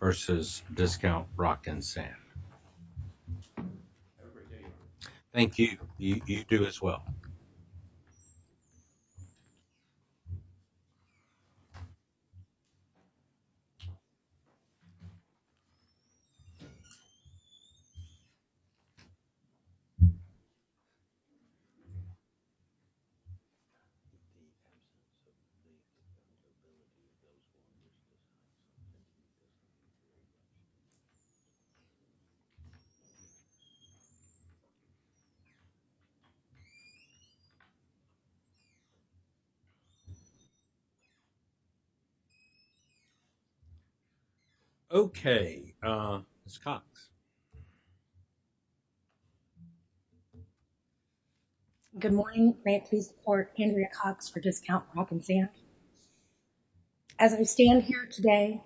Vs. Discount Rock & Sand. Thank you. You do as well. Thank you. Okay. Let's see, Ms. Cox. Good morning. May I please report Andrea Cox for Discount Rock & Sand. As I stand here today,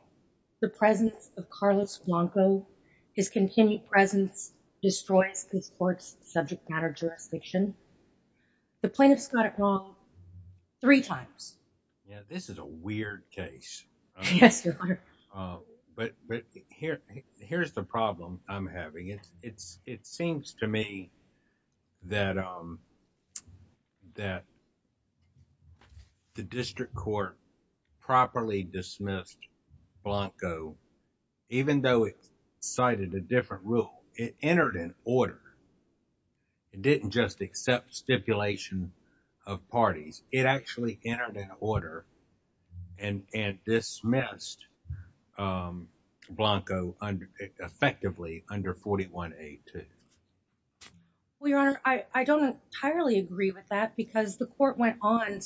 the presence of Carlos Blanco, his continued presence, destroys this court's subject matter jurisdiction. The plaintiffs got it wrong three times. Yeah, this is a weird case. Yes, it is. But here's the problem I'm having. It seems to me that the district court properly dismissed Blanco, even though it cited a different rule. It entered an order. It didn't just accept stipulation of parties. It actually entered an order and dismissed Blanco effectively under 41A2. Well, Your Honor, I don't entirely agree with that because the court went on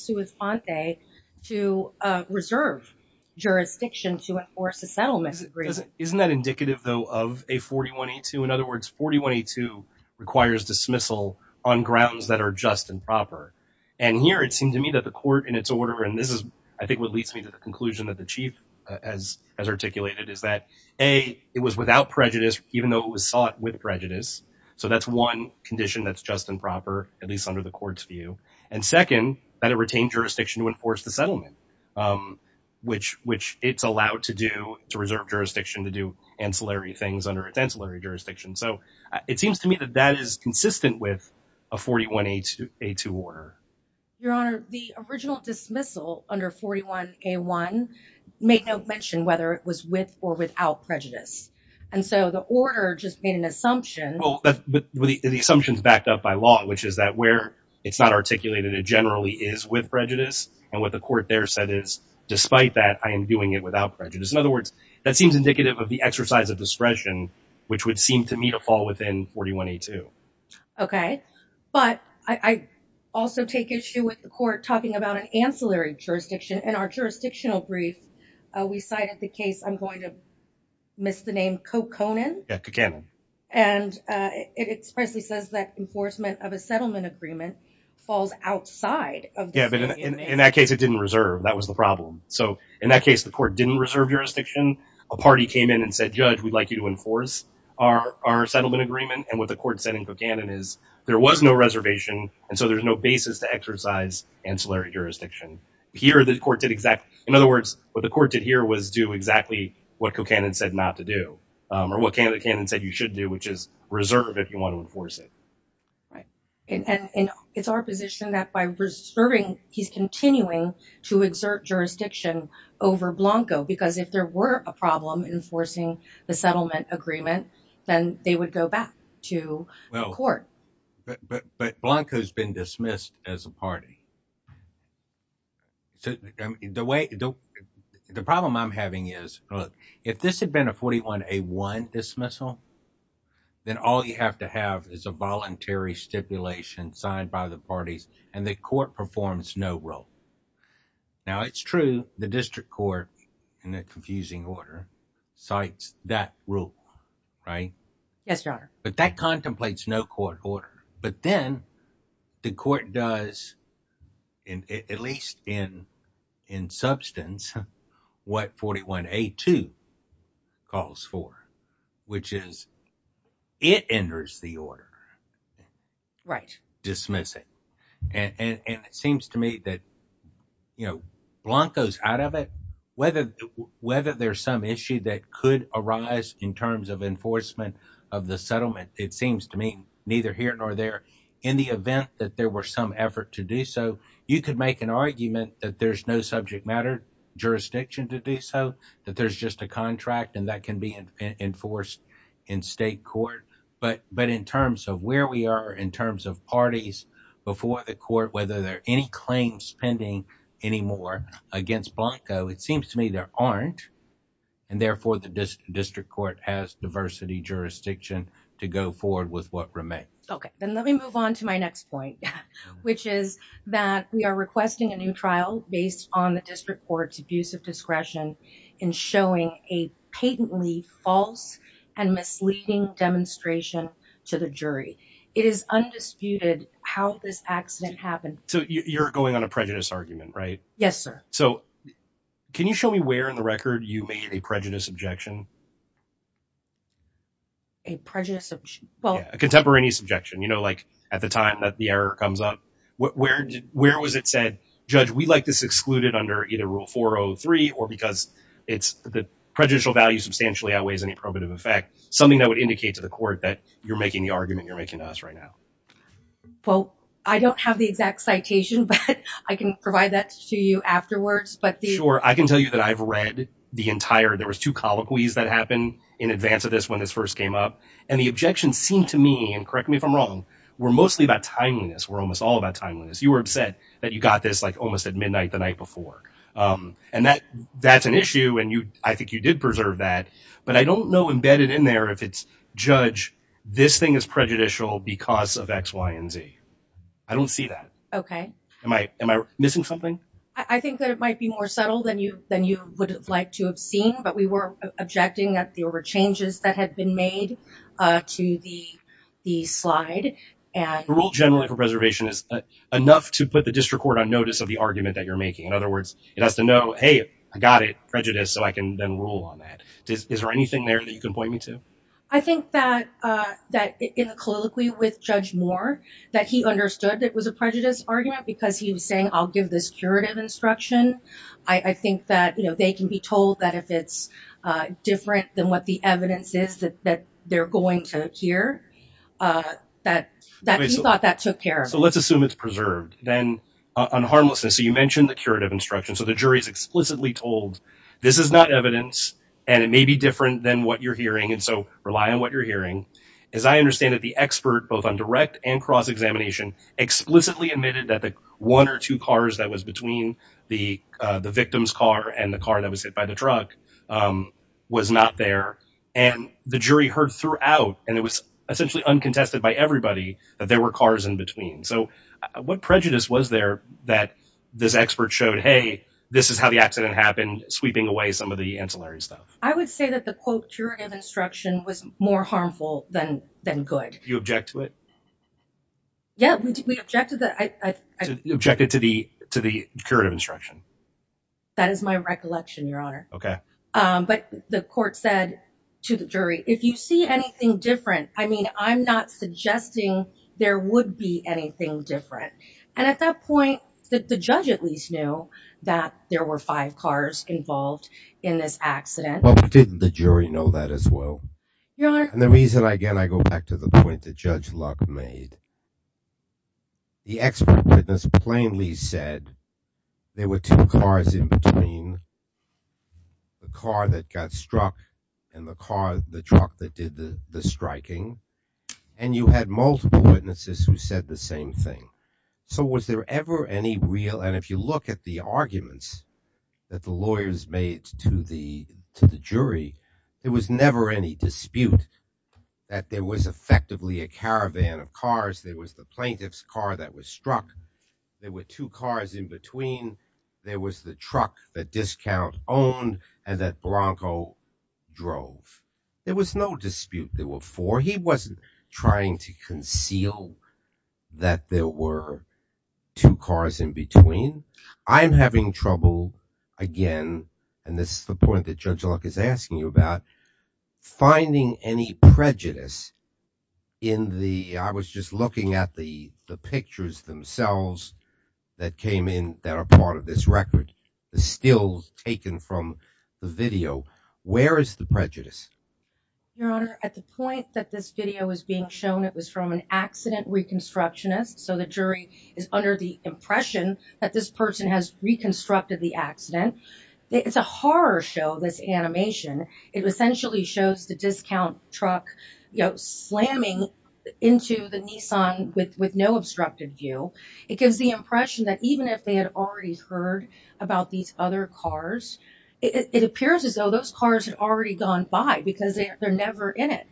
to reserve jurisdiction to enforce a settlement agreement. Isn't that indicative, though, of a 41A2? In other words, 41A2 requires dismissal on grounds that are just and proper. And here it seemed to me that the court in its order, and this is I think what leads me to the conclusion that the chief has articulated, is that, A, it was without prejudice, even though it was sought with prejudice. So that's one condition that's just and proper, at least under the court's view. And second, that it retained jurisdiction to enforce the settlement, which it's allowed to do, to reserve jurisdiction to do ancillary things under its ancillary jurisdiction. So it seems to me that that is consistent with a 41A2 order. Your Honor, the original dismissal under 41A1 made no mention whether it was with or without prejudice. And so the order just made an assumption. Well, the assumption is backed up by law, which is that where it's not articulated, it generally is with prejudice. And what the court there said is, despite that, I am doing it without prejudice. In other words, that seems indicative of the exercise of discretion, which would seem to me to fall within 41A2. Okay. But I also take issue with the court talking about an ancillary jurisdiction. In our jurisdictional brief, we cited the case, I'm going to miss the name, Coconin. Yeah, Coconin. And it expressly says that enforcement of a settlement agreement falls outside of the state. Yeah, but in that case, it didn't reserve. That was the problem. So in that case, the court didn't reserve jurisdiction. A party came in and said, Judge, we'd like you to enforce our settlement agreement. And what the court said in Coconin is there was no reservation, and so there's no basis to exercise ancillary jurisdiction. Here, the court did exactly. In other words, what the court did here was do exactly what Coconin said not to do, or what Candidate Cannon said you should do, which is reserve if you want to enforce it. And it's our position that by reserving, he's continuing to exert jurisdiction over Blanco. Because if there were a problem enforcing the settlement agreement, then they would go back to the court. But Blanco's been dismissed as a party. The problem I'm having is, look, if this had been a 41A1 dismissal, then all you have to have is a voluntary stipulation signed by the parties, and the court performs no role. Now, it's true, the district court, in a confusing order, cites that rule, right? Yes, Your Honor. But that contemplates no court order. But then the court does, at least in substance, what 41A2 calls for, which is it enters the order, dismiss it. And it seems to me that Blanco's out of it. Whether there's some issue that could arise in terms of enforcement of the settlement, it seems to me neither here nor there. In the event that there were some effort to do so, you could make an argument that there's no subject matter jurisdiction to do so, that there's just a contract, and that can be enforced in state court. But in terms of where we are, in terms of parties before the court, whether there are any claims pending anymore against Blanco, it seems to me there aren't. And therefore, the district court has diversity jurisdiction to go forward with what remains. Okay, then let me move on to my next point, which is that we are requesting a new trial based on the district court's abuse of discretion in showing a patently false and misleading demonstration to the jury. It is undisputed how this accident happened. So you're going on a prejudice argument, right? Yes, sir. So can you show me where in the record you made a prejudice objection? A prejudice objection? A contemporaneous objection, you know, like at the time that the error comes up. Where was it said, Judge, we'd like this excluded under either Rule 403 or because the prejudicial value substantially outweighs any probative effect, something that would indicate to the court that you're making the argument you're making to us right now. Well, I don't have the exact citation, but I can provide that to you afterwards. Sure, I can tell you that I've read the entire, there was two colloquies that happened in advance of this when this first came up. And the objections seem to me, and correct me if I'm wrong, were mostly about timeliness, were almost all about timeliness. You were upset that you got this like almost at midnight the night before. And that's an issue, and I think you did preserve that. But I don't know embedded in there if it's, Judge, this thing is prejudicial because of X, Y, and Z. I don't see that. Okay. Am I missing something? I think that it might be more subtle than you would have liked to have seen, but we were objecting that there were changes that had been made to the slide. Rule generally for preservation is enough to put the district court on notice of the argument that you're making. In other words, it has to know, hey, I got it, prejudice, so I can then rule on that. Is there anything there that you can point me to? I think that in the colloquy with Judge Moore, that he understood it was a prejudice argument because he was saying, I'll give this curative instruction. I think that they can be told that if it's different than what the evidence is that they're going to hear, that he thought that took care of it. So let's assume it's preserved. Then on harmlessness, so you mentioned the curative instruction. So the jury is explicitly told, this is not evidence, and it may be different than what you're hearing. So rely on what you're hearing. As I understand it, the expert, both on direct and cross-examination, explicitly admitted that the one or two cars that was between the victim's car and the car that was hit by the truck was not there. And the jury heard throughout, and it was essentially uncontested by everybody, that there were cars in between. So what prejudice was there that this expert showed, hey, this is how the accident happened, sweeping away some of the ancillary stuff? I would say that the, quote, curative instruction was more harmful than good. You object to it? Yeah, we objected that. You objected to the curative instruction? That is my recollection, Your Honor. OK. But the court said to the jury, if you see anything different, I mean, I'm not suggesting there would be anything different. And at that point, the judge at least knew that there were five cars involved in this accident. But didn't the jury know that as well? Your Honor. And the reason, again, I go back to the point that Judge Luck made, the expert witness plainly said there were two cars in between, the car that got struck and the truck that did the striking. And you had multiple witnesses who said the same thing. So was there ever any real, and if you look at the arguments that the lawyers made to the jury, there was never any dispute that there was effectively a caravan of cars. There was the plaintiff's car that was struck. There were two cars in between. There was the truck that Discount owned and that Blanco drove. There was no dispute. There were four. He wasn't trying to conceal that there were two cars in between. I'm having trouble, again, and this is the point that Judge Luck is asking you about, finding any prejudice in the, I was just looking at the pictures themselves that came in that are part of this record, the stills taken from the video. Where is the prejudice? Your Honor, at the point that this video is being shown, it was from an accident reconstructionist. So the jury is under the impression that this person has reconstructed the accident. It's a horror show, this animation. It essentially shows the Discount truck slamming into the Nissan with no obstructed view. It gives the impression that even if they had already heard about these other cars, it appears as though those cars had already gone by because they're never in it.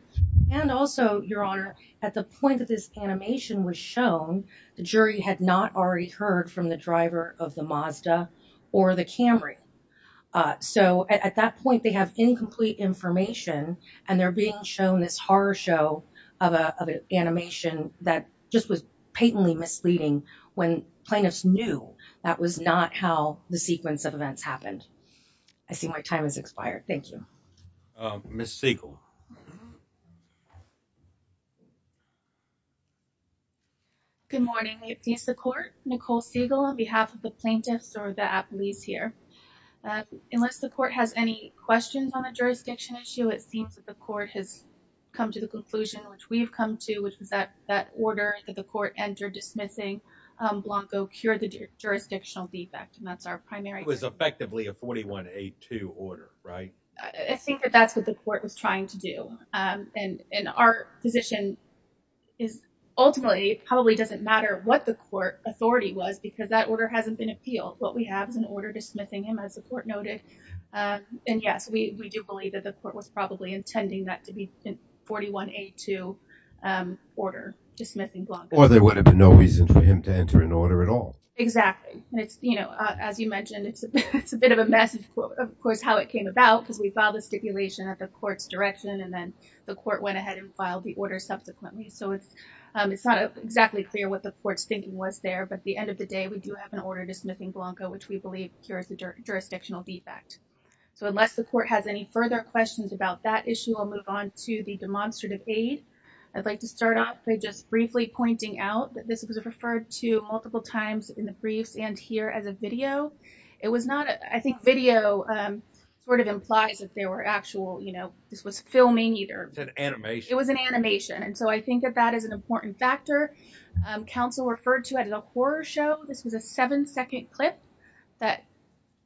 And also, Your Honor, at the point that this animation was shown, the jury had not already heard from the driver of the Mazda or the Camry. So at that point, they have incomplete information, and they're being shown this horror show of an animation that just was patently misleading when plaintiffs knew that was not how the sequence of events happened. I see my time has expired. Thank you. Ms. Siegel. Good morning. This is the court, Nicole Siegel, on behalf of the plaintiffs or the appellees here. Unless the court has any questions on the jurisdiction issue, it seems that the court has come to the conclusion, which we've come to, which is that that order that the court entered dismissing Blanco cured the jurisdictional defect. And that's our primary. It was effectively a 41-8-2 order, right? I think that that's what the court was trying to do. And our position is, ultimately, it probably doesn't matter what the court authority was because that order hasn't been appealed. What we have is an order dismissing him, as the court noted. And, yes, we do believe that the court was probably intending that to be a 41-8-2 order, dismissing Blanco. Or there would have been no reason for him to enter an order at all. Exactly. And it's, you know, as you mentioned, it's a bit of a mess, of course, how it came about because we filed a stipulation at the court's direction. And then the court went ahead and filed the order subsequently. So it's not exactly clear what the court's thinking was there. But at the end of the day, we do have an order dismissing Blanco, which we believe cures the jurisdictional defect. So unless the court has any further questions about that issue, I'll move on to the demonstrative aid. I'd like to start off by just briefly pointing out that this was referred to multiple times in the briefs and here as a video. It was not, I think, video sort of implies that they were actual, you know, this was filming either. It was an animation. It was an animation. And so I think that that is an important factor. Counsel referred to it as a horror show. This was a seven-second clip that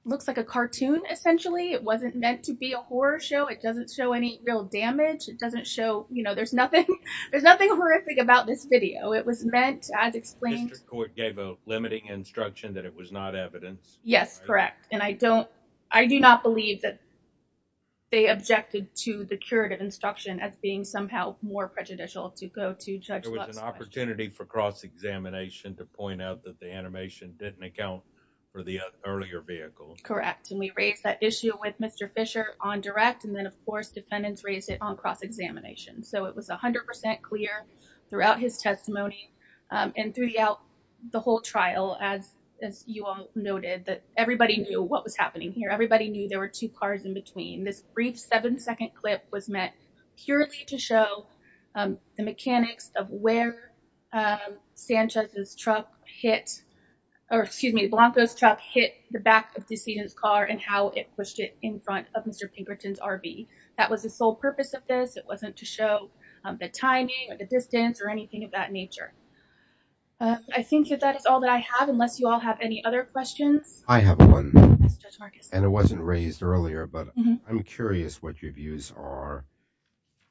looks like a cartoon, essentially. It wasn't meant to be a horror show. It doesn't show any real damage. It doesn't show, you know, there's nothing horrific about this video. It was meant as explained. The district court gave a limiting instruction that it was not evidence. Yes, correct. And I do not believe that they objected to the curative instruction as being somehow more prejudicial to go to Judge Buck's question. There was an opportunity for cross-examination to point out that the animation didn't account for the earlier vehicle. Correct. And we raised that issue with Mr. Fisher on direct. And then, of course, defendants raised it on cross-examination. So it was 100% clear throughout his testimony and throughout the whole trial, as you all noted, that everybody knew what was happening here. Everybody knew there were two cars in between. This brief seven-second clip was meant purely to show the mechanics of where Sanchez's truck hit, or excuse me, Blanco's truck hit the back of the decedent's car and how it pushed it in front of Mr. Pinkerton's RV. That was the sole purpose of this. It wasn't to show the timing or the distance or anything of that nature. I think that that is all that I have, unless you all have any other questions. I have one, and it wasn't raised earlier, but I'm curious what your views are.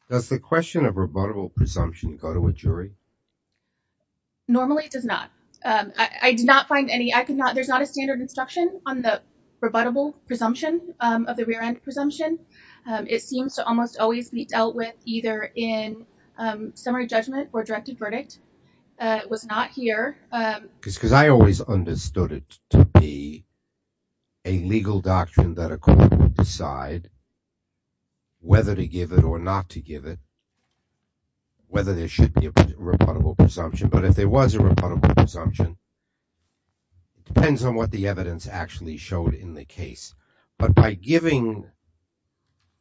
Does the question of rebuttable presumption go to a jury? Normally, it does not. I did not find any. There's not a standard instruction on the rebuttable presumption of the rear-end presumption. It seems to almost always be dealt with either in summary judgment or directed verdict. It was not here. I always understood it to be a legal doctrine that a court would decide whether to give it or not to give it, whether there should be a rebuttable presumption. But if there was a rebuttable presumption, it depends on what the evidence actually showed in the case. But by giving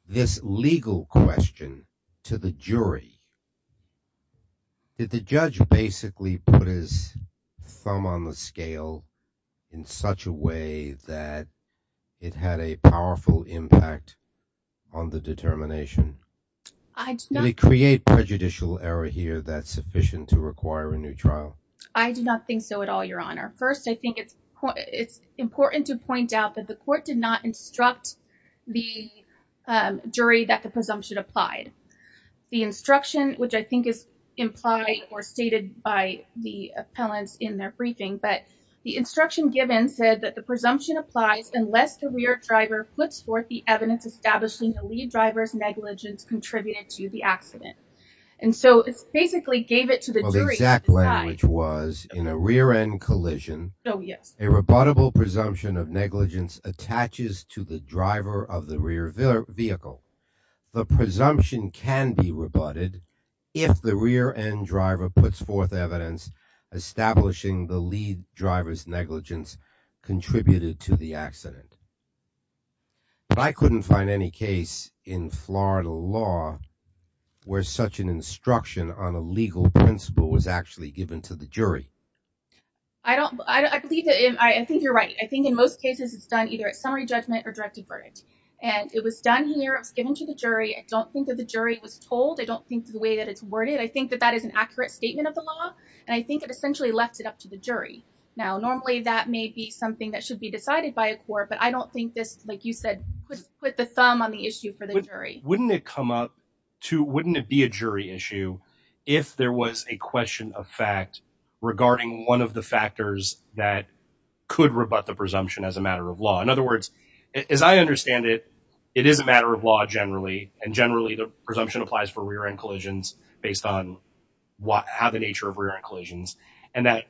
this legal question to the jury, did the judge basically put his thumb on the scale in such a way that it had a powerful impact on the determination? Did it create prejudicial error here that's sufficient to require a new trial? I do not think so at all, Your Honor. First, I think it's important to point out that the court did not instruct the jury that the presumption applied. The instruction, which I think is implied or stated by the appellants in their briefing, but the instruction given said that the presumption applies unless the rear driver puts forth the evidence establishing the lead driver's negligence contributed to the accident. And so it basically gave it to the jury. The exact language was, in a rear-end collision, a rebuttable presumption of negligence attaches to the driver of the rear vehicle. The presumption can be rebutted if the rear-end driver puts forth evidence establishing the lead driver's negligence contributed to the accident. But I couldn't find any case in Florida law where such an instruction on a legal principle was actually given to the jury. I think you're right. I think in most cases it's done either at summary judgment or directed verdict. And it was done here. It was given to the jury. I don't think that the jury was told. I don't think the way that it's worded. I think that that is an accurate statement of the law. And I think it essentially left it up to the jury. Now, normally that may be something that should be decided by a court. But I don't think this, like you said, put the thumb on the issue for the jury. Wouldn't it come up to – wouldn't it be a jury issue if there was a question of fact regarding one of the factors that could rebut the presumption as a matter of law? In other words, as I understand it, it is a matter of law generally. And generally the presumption applies for rear-end collisions based on how the nature of rear-end collisions. And that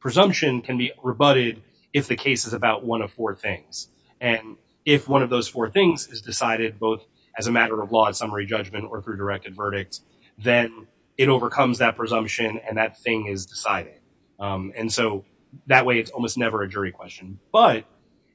presumption can be rebutted if the case is about one of four things. And if one of those four things is decided both as a matter of law at summary judgment or through directed verdict, then it overcomes that presumption and that thing is decided. And so that way it's almost never a jury question. But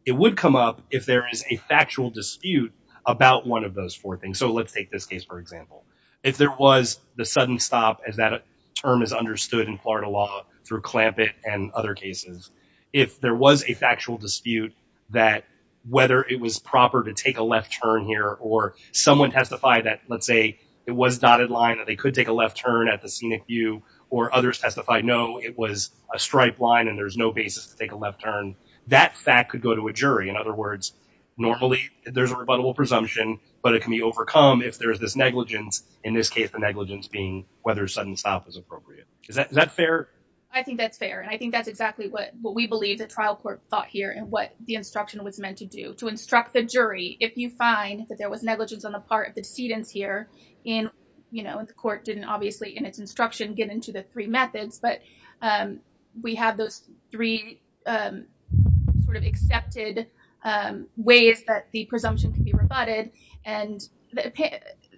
it would come up if there is a factual dispute about one of those four things. So let's take this case, for example. If there was the sudden stop as that term is understood in Florida law through Clampett and other cases, if there was a factual dispute that whether it was proper to take a left turn here or someone testified that, let's say, it was dotted line, that they could take a left turn at the scenic view, or others testified no, it was a striped line and there's no basis to take a left turn, that fact could go to a jury. In other words, normally there's a rebuttable presumption, but it can be overcome if there is this negligence. In this case, the negligence being whether sudden stop is appropriate. Is that fair? I think that's fair. And I think that's exactly what we believe the trial court thought here and what the instruction was meant to do to instruct the jury. If you find that there was negligence on the part of the decedents here in, you know, the court didn't obviously in its instruction get into the three methods, but we have those three sort of accepted ways that the presumption can be rebutted. And,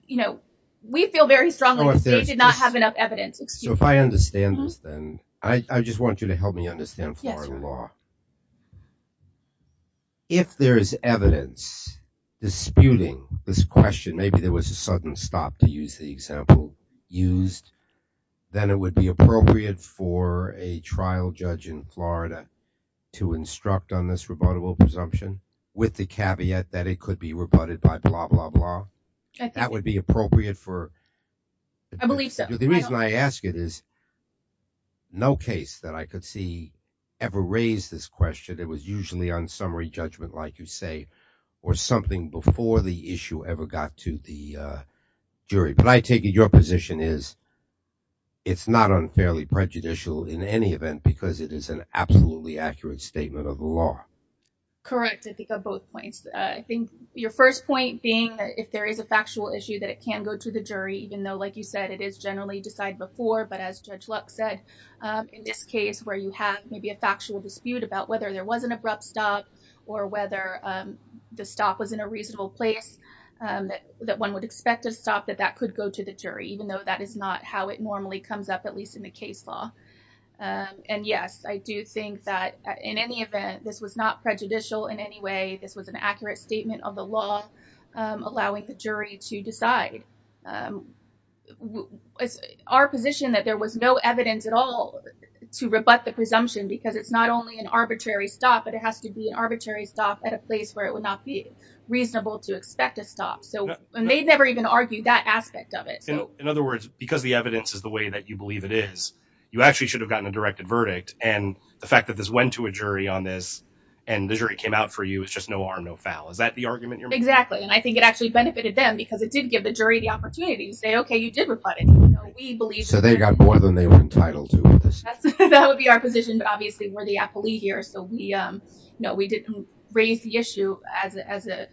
you know, we feel very strongly that we did not have enough evidence. So if I understand this, then I just want you to help me understand Florida law. If there is evidence disputing this question, maybe there was a sudden stop to use the example used, then it would be appropriate for a trial judge in Florida to instruct on this rebuttable presumption with the caveat that it could be rebutted by blah, blah, blah. That would be appropriate for. I believe so. The reason I ask it is. No case that I could see ever raised this question. It was usually on summary judgment, like you say, or something before the issue ever got to the jury. But I take your position is. It's not unfairly prejudicial in any event because it is an absolutely accurate statement of the law. Correct. I think of both points, I think your first point being that if there is a factual issue that it can go to the jury, even though, like you said, it is generally decide before. But as Judge Luck said, in this case where you have maybe a factual dispute about whether there was an abrupt stop or whether the stop was in a reasonable place, that one would expect to stop, that that could go to the jury, even though that is not how it normally comes up, at least in the case law. And yes, I do think that in any event, this was not prejudicial in any way. This was an accurate statement of the law allowing the jury to decide our position, that there was no evidence at all to rebut the presumption because it's not only an arbitrary stop, but it has to be an arbitrary stop at a place where it would not be reasonable to expect a stop. So they never even argued that aspect of it. In other words, because the evidence is the way that you believe it is, you actually should have gotten a directed verdict. And the fact that this went to a jury on this and the jury came out for you, it's just no arm, no foul. Is that the argument you're making? Exactly. And I think it actually benefited them because it did give the jury the opportunity to say, OK, you did rebut it. So they got more than they were entitled to. That would be our position, but obviously we're the appellee here. So we know we didn't raise the issue as a as a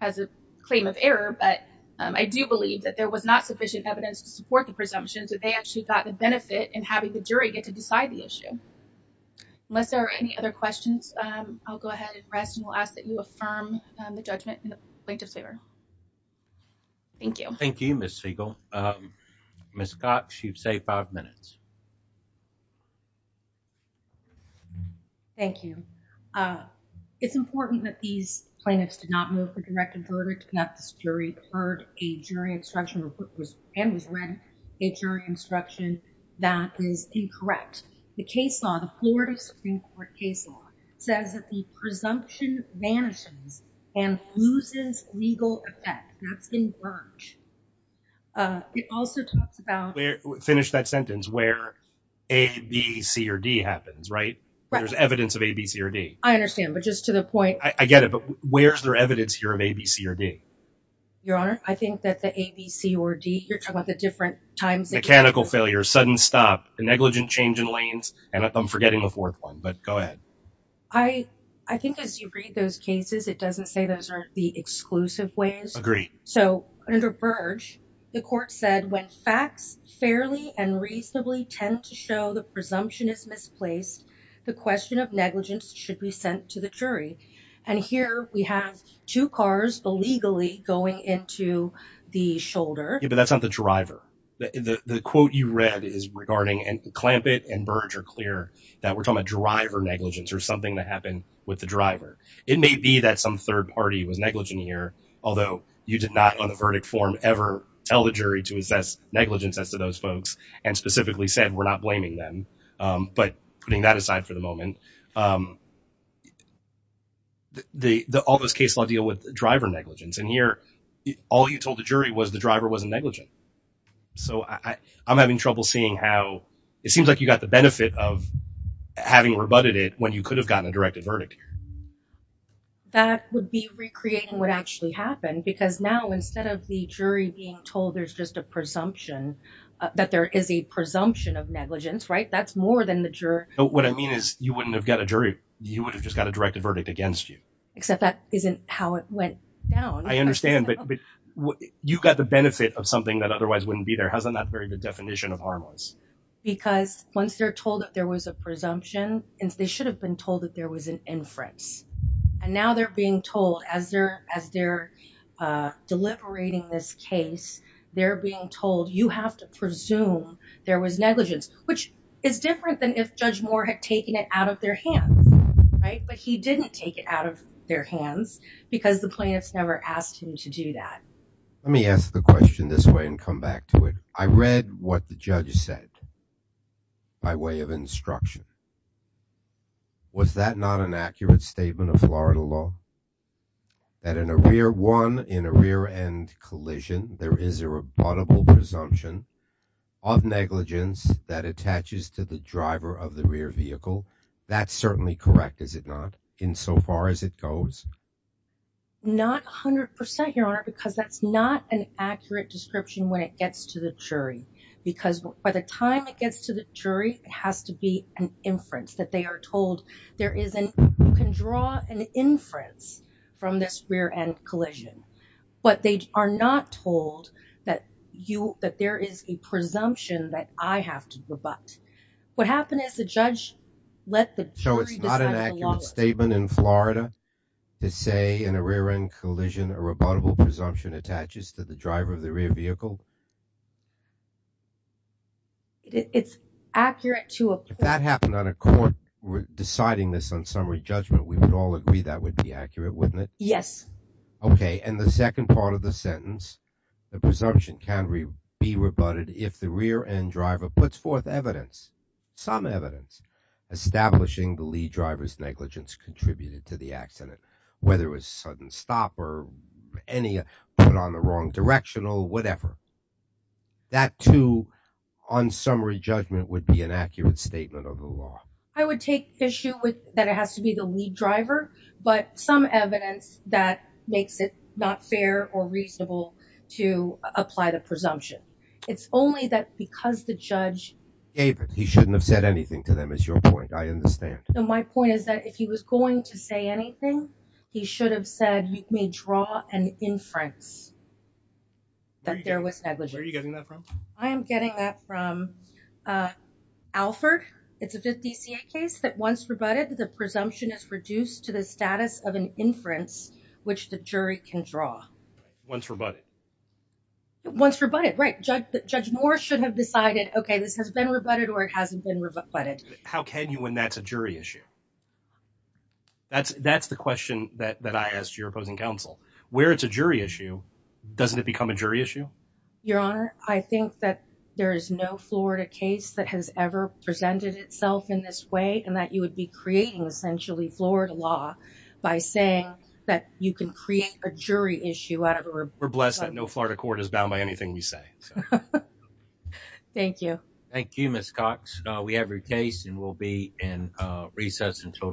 as a claim of error. But I do believe that there was not sufficient evidence to support the presumptions that they actually got the benefit and having the jury get to decide the issue. Unless there are any other questions, I'll go ahead and rest and we'll ask that you affirm the judgment in the plaintiff's favor. Thank you. Thank you, Miss Segal. Miss Cox, you've saved five minutes. Thank you. It's important that these plaintiffs did not move the directed verdict. Not this jury heard a jury instruction and was read a jury instruction that is incorrect. The case law, the Florida Supreme Court case law says that the presumption vanishes and loses legal effect. It also talks about finish that sentence where a, b, c or d happens, right? There's evidence of a, b, c or d. I understand. But just to the point, I get it. But where's their evidence here of a, b, c or d? Your Honor, I think that the a, b, c or d, you're talking about the different times. Mechanical failure, sudden stop, negligent change in lanes. And I'm forgetting the fourth one. But go ahead. I, I think as you read those cases, it doesn't say those are the exclusive ways. Agreed. So under Burge, the court said when facts fairly and reasonably tend to show the presumption is misplaced, the question of negligence should be sent to the jury. And here we have two cars illegally going into the shoulder. Yeah, but that's not the driver. The quote you read is regarding and Clampett and Burge are clear that we're talking about driver negligence or something that happened with the driver. It may be that some third party was negligent here, although you did not on the verdict form ever tell the jury to assess negligence as to those folks and specifically said we're not blaming them. But putting that aside for the moment. The all this case law deal with driver negligence in here. All you told the jury was the driver wasn't negligent. So I'm having trouble seeing how it seems like you got the benefit of having rebutted it when you could have gotten a directed verdict. That would be recreating what actually happened because now instead of the jury being told there's just a presumption that there is a presumption of negligence, right? That's more than the jury. What I mean is you wouldn't have got a jury. You would have just got a directed verdict against you. Except that isn't how it went down. I understand, but you got the benefit of something that otherwise wouldn't be there. Hasn't that very good definition of harmless? Because once they're told that there was a presumption and they should have been told that there was an inference. And now they're being told as they're as they're deliberating this case, they're being told, you have to presume there was negligence, which is different than if Judge Moore had taken it out of their hands. Right, but he didn't take it out of their hands because the plaintiffs never asked him to do that. Let me ask the question this way and come back to it. I read what the judge said. By way of instruction. Was that not an accurate statement of Florida law? That in a rear one in a rear end collision, there is a rebuttable presumption of negligence that attaches to the driver of the rear vehicle. That's certainly correct, is it not? In so far as it goes. Not 100%, Your Honor, because that's not an accurate description when it gets to the jury, because by the time it gets to the jury, it has to be an inference that they are told. There is an you can draw an inference from this rear end collision, but they are not told that you that there is a presumption that I have to rebut. What happened is the judge let the jury decide. So it's not an accurate statement in Florida to say in a rear end collision, a rebuttable presumption attaches to the driver of the rear vehicle. It's accurate to that happened on a court deciding this on summary judgment. We would all agree that would be accurate, wouldn't it? Yes. Okay. And the second part of the sentence, the presumption can be rebutted if the rear end driver puts forth evidence. Some evidence establishing the lead driver's negligence contributed to the accident, whether it was sudden stop or any put on the wrong directional, whatever. That, too, on summary judgment would be an accurate statement of the law. I would take issue with that. It has to be the lead driver, but some evidence that makes it not fair or reasonable to apply the presumption. It's only that because the judge gave it, he shouldn't have said anything to them is your point. I understand. So my point is that if he was going to say anything, he should have said, you may draw an inference. That there was negligence. Where are you getting that from? I am getting that from Alford. It's a 50 C.A. case that once rebutted, the presumption is reduced to the status of an inference, which the jury can draw. Once rebutted. Once rebutted, right. Judge Moore should have decided, OK, this has been rebutted or it hasn't been rebutted. How can you when that's a jury issue? That's that's the question that I asked your opposing counsel where it's a jury issue. Doesn't it become a jury issue? Your Honor, I think that there is no Florida case that has ever presented itself in this way and that you would be creating essentially Florida law by saying that you can create a jury issue. We're blessed that no Florida court is bound by anything you say. Thank you. Thank you, Miss Cox. We have your case and we'll be in recess until tomorrow.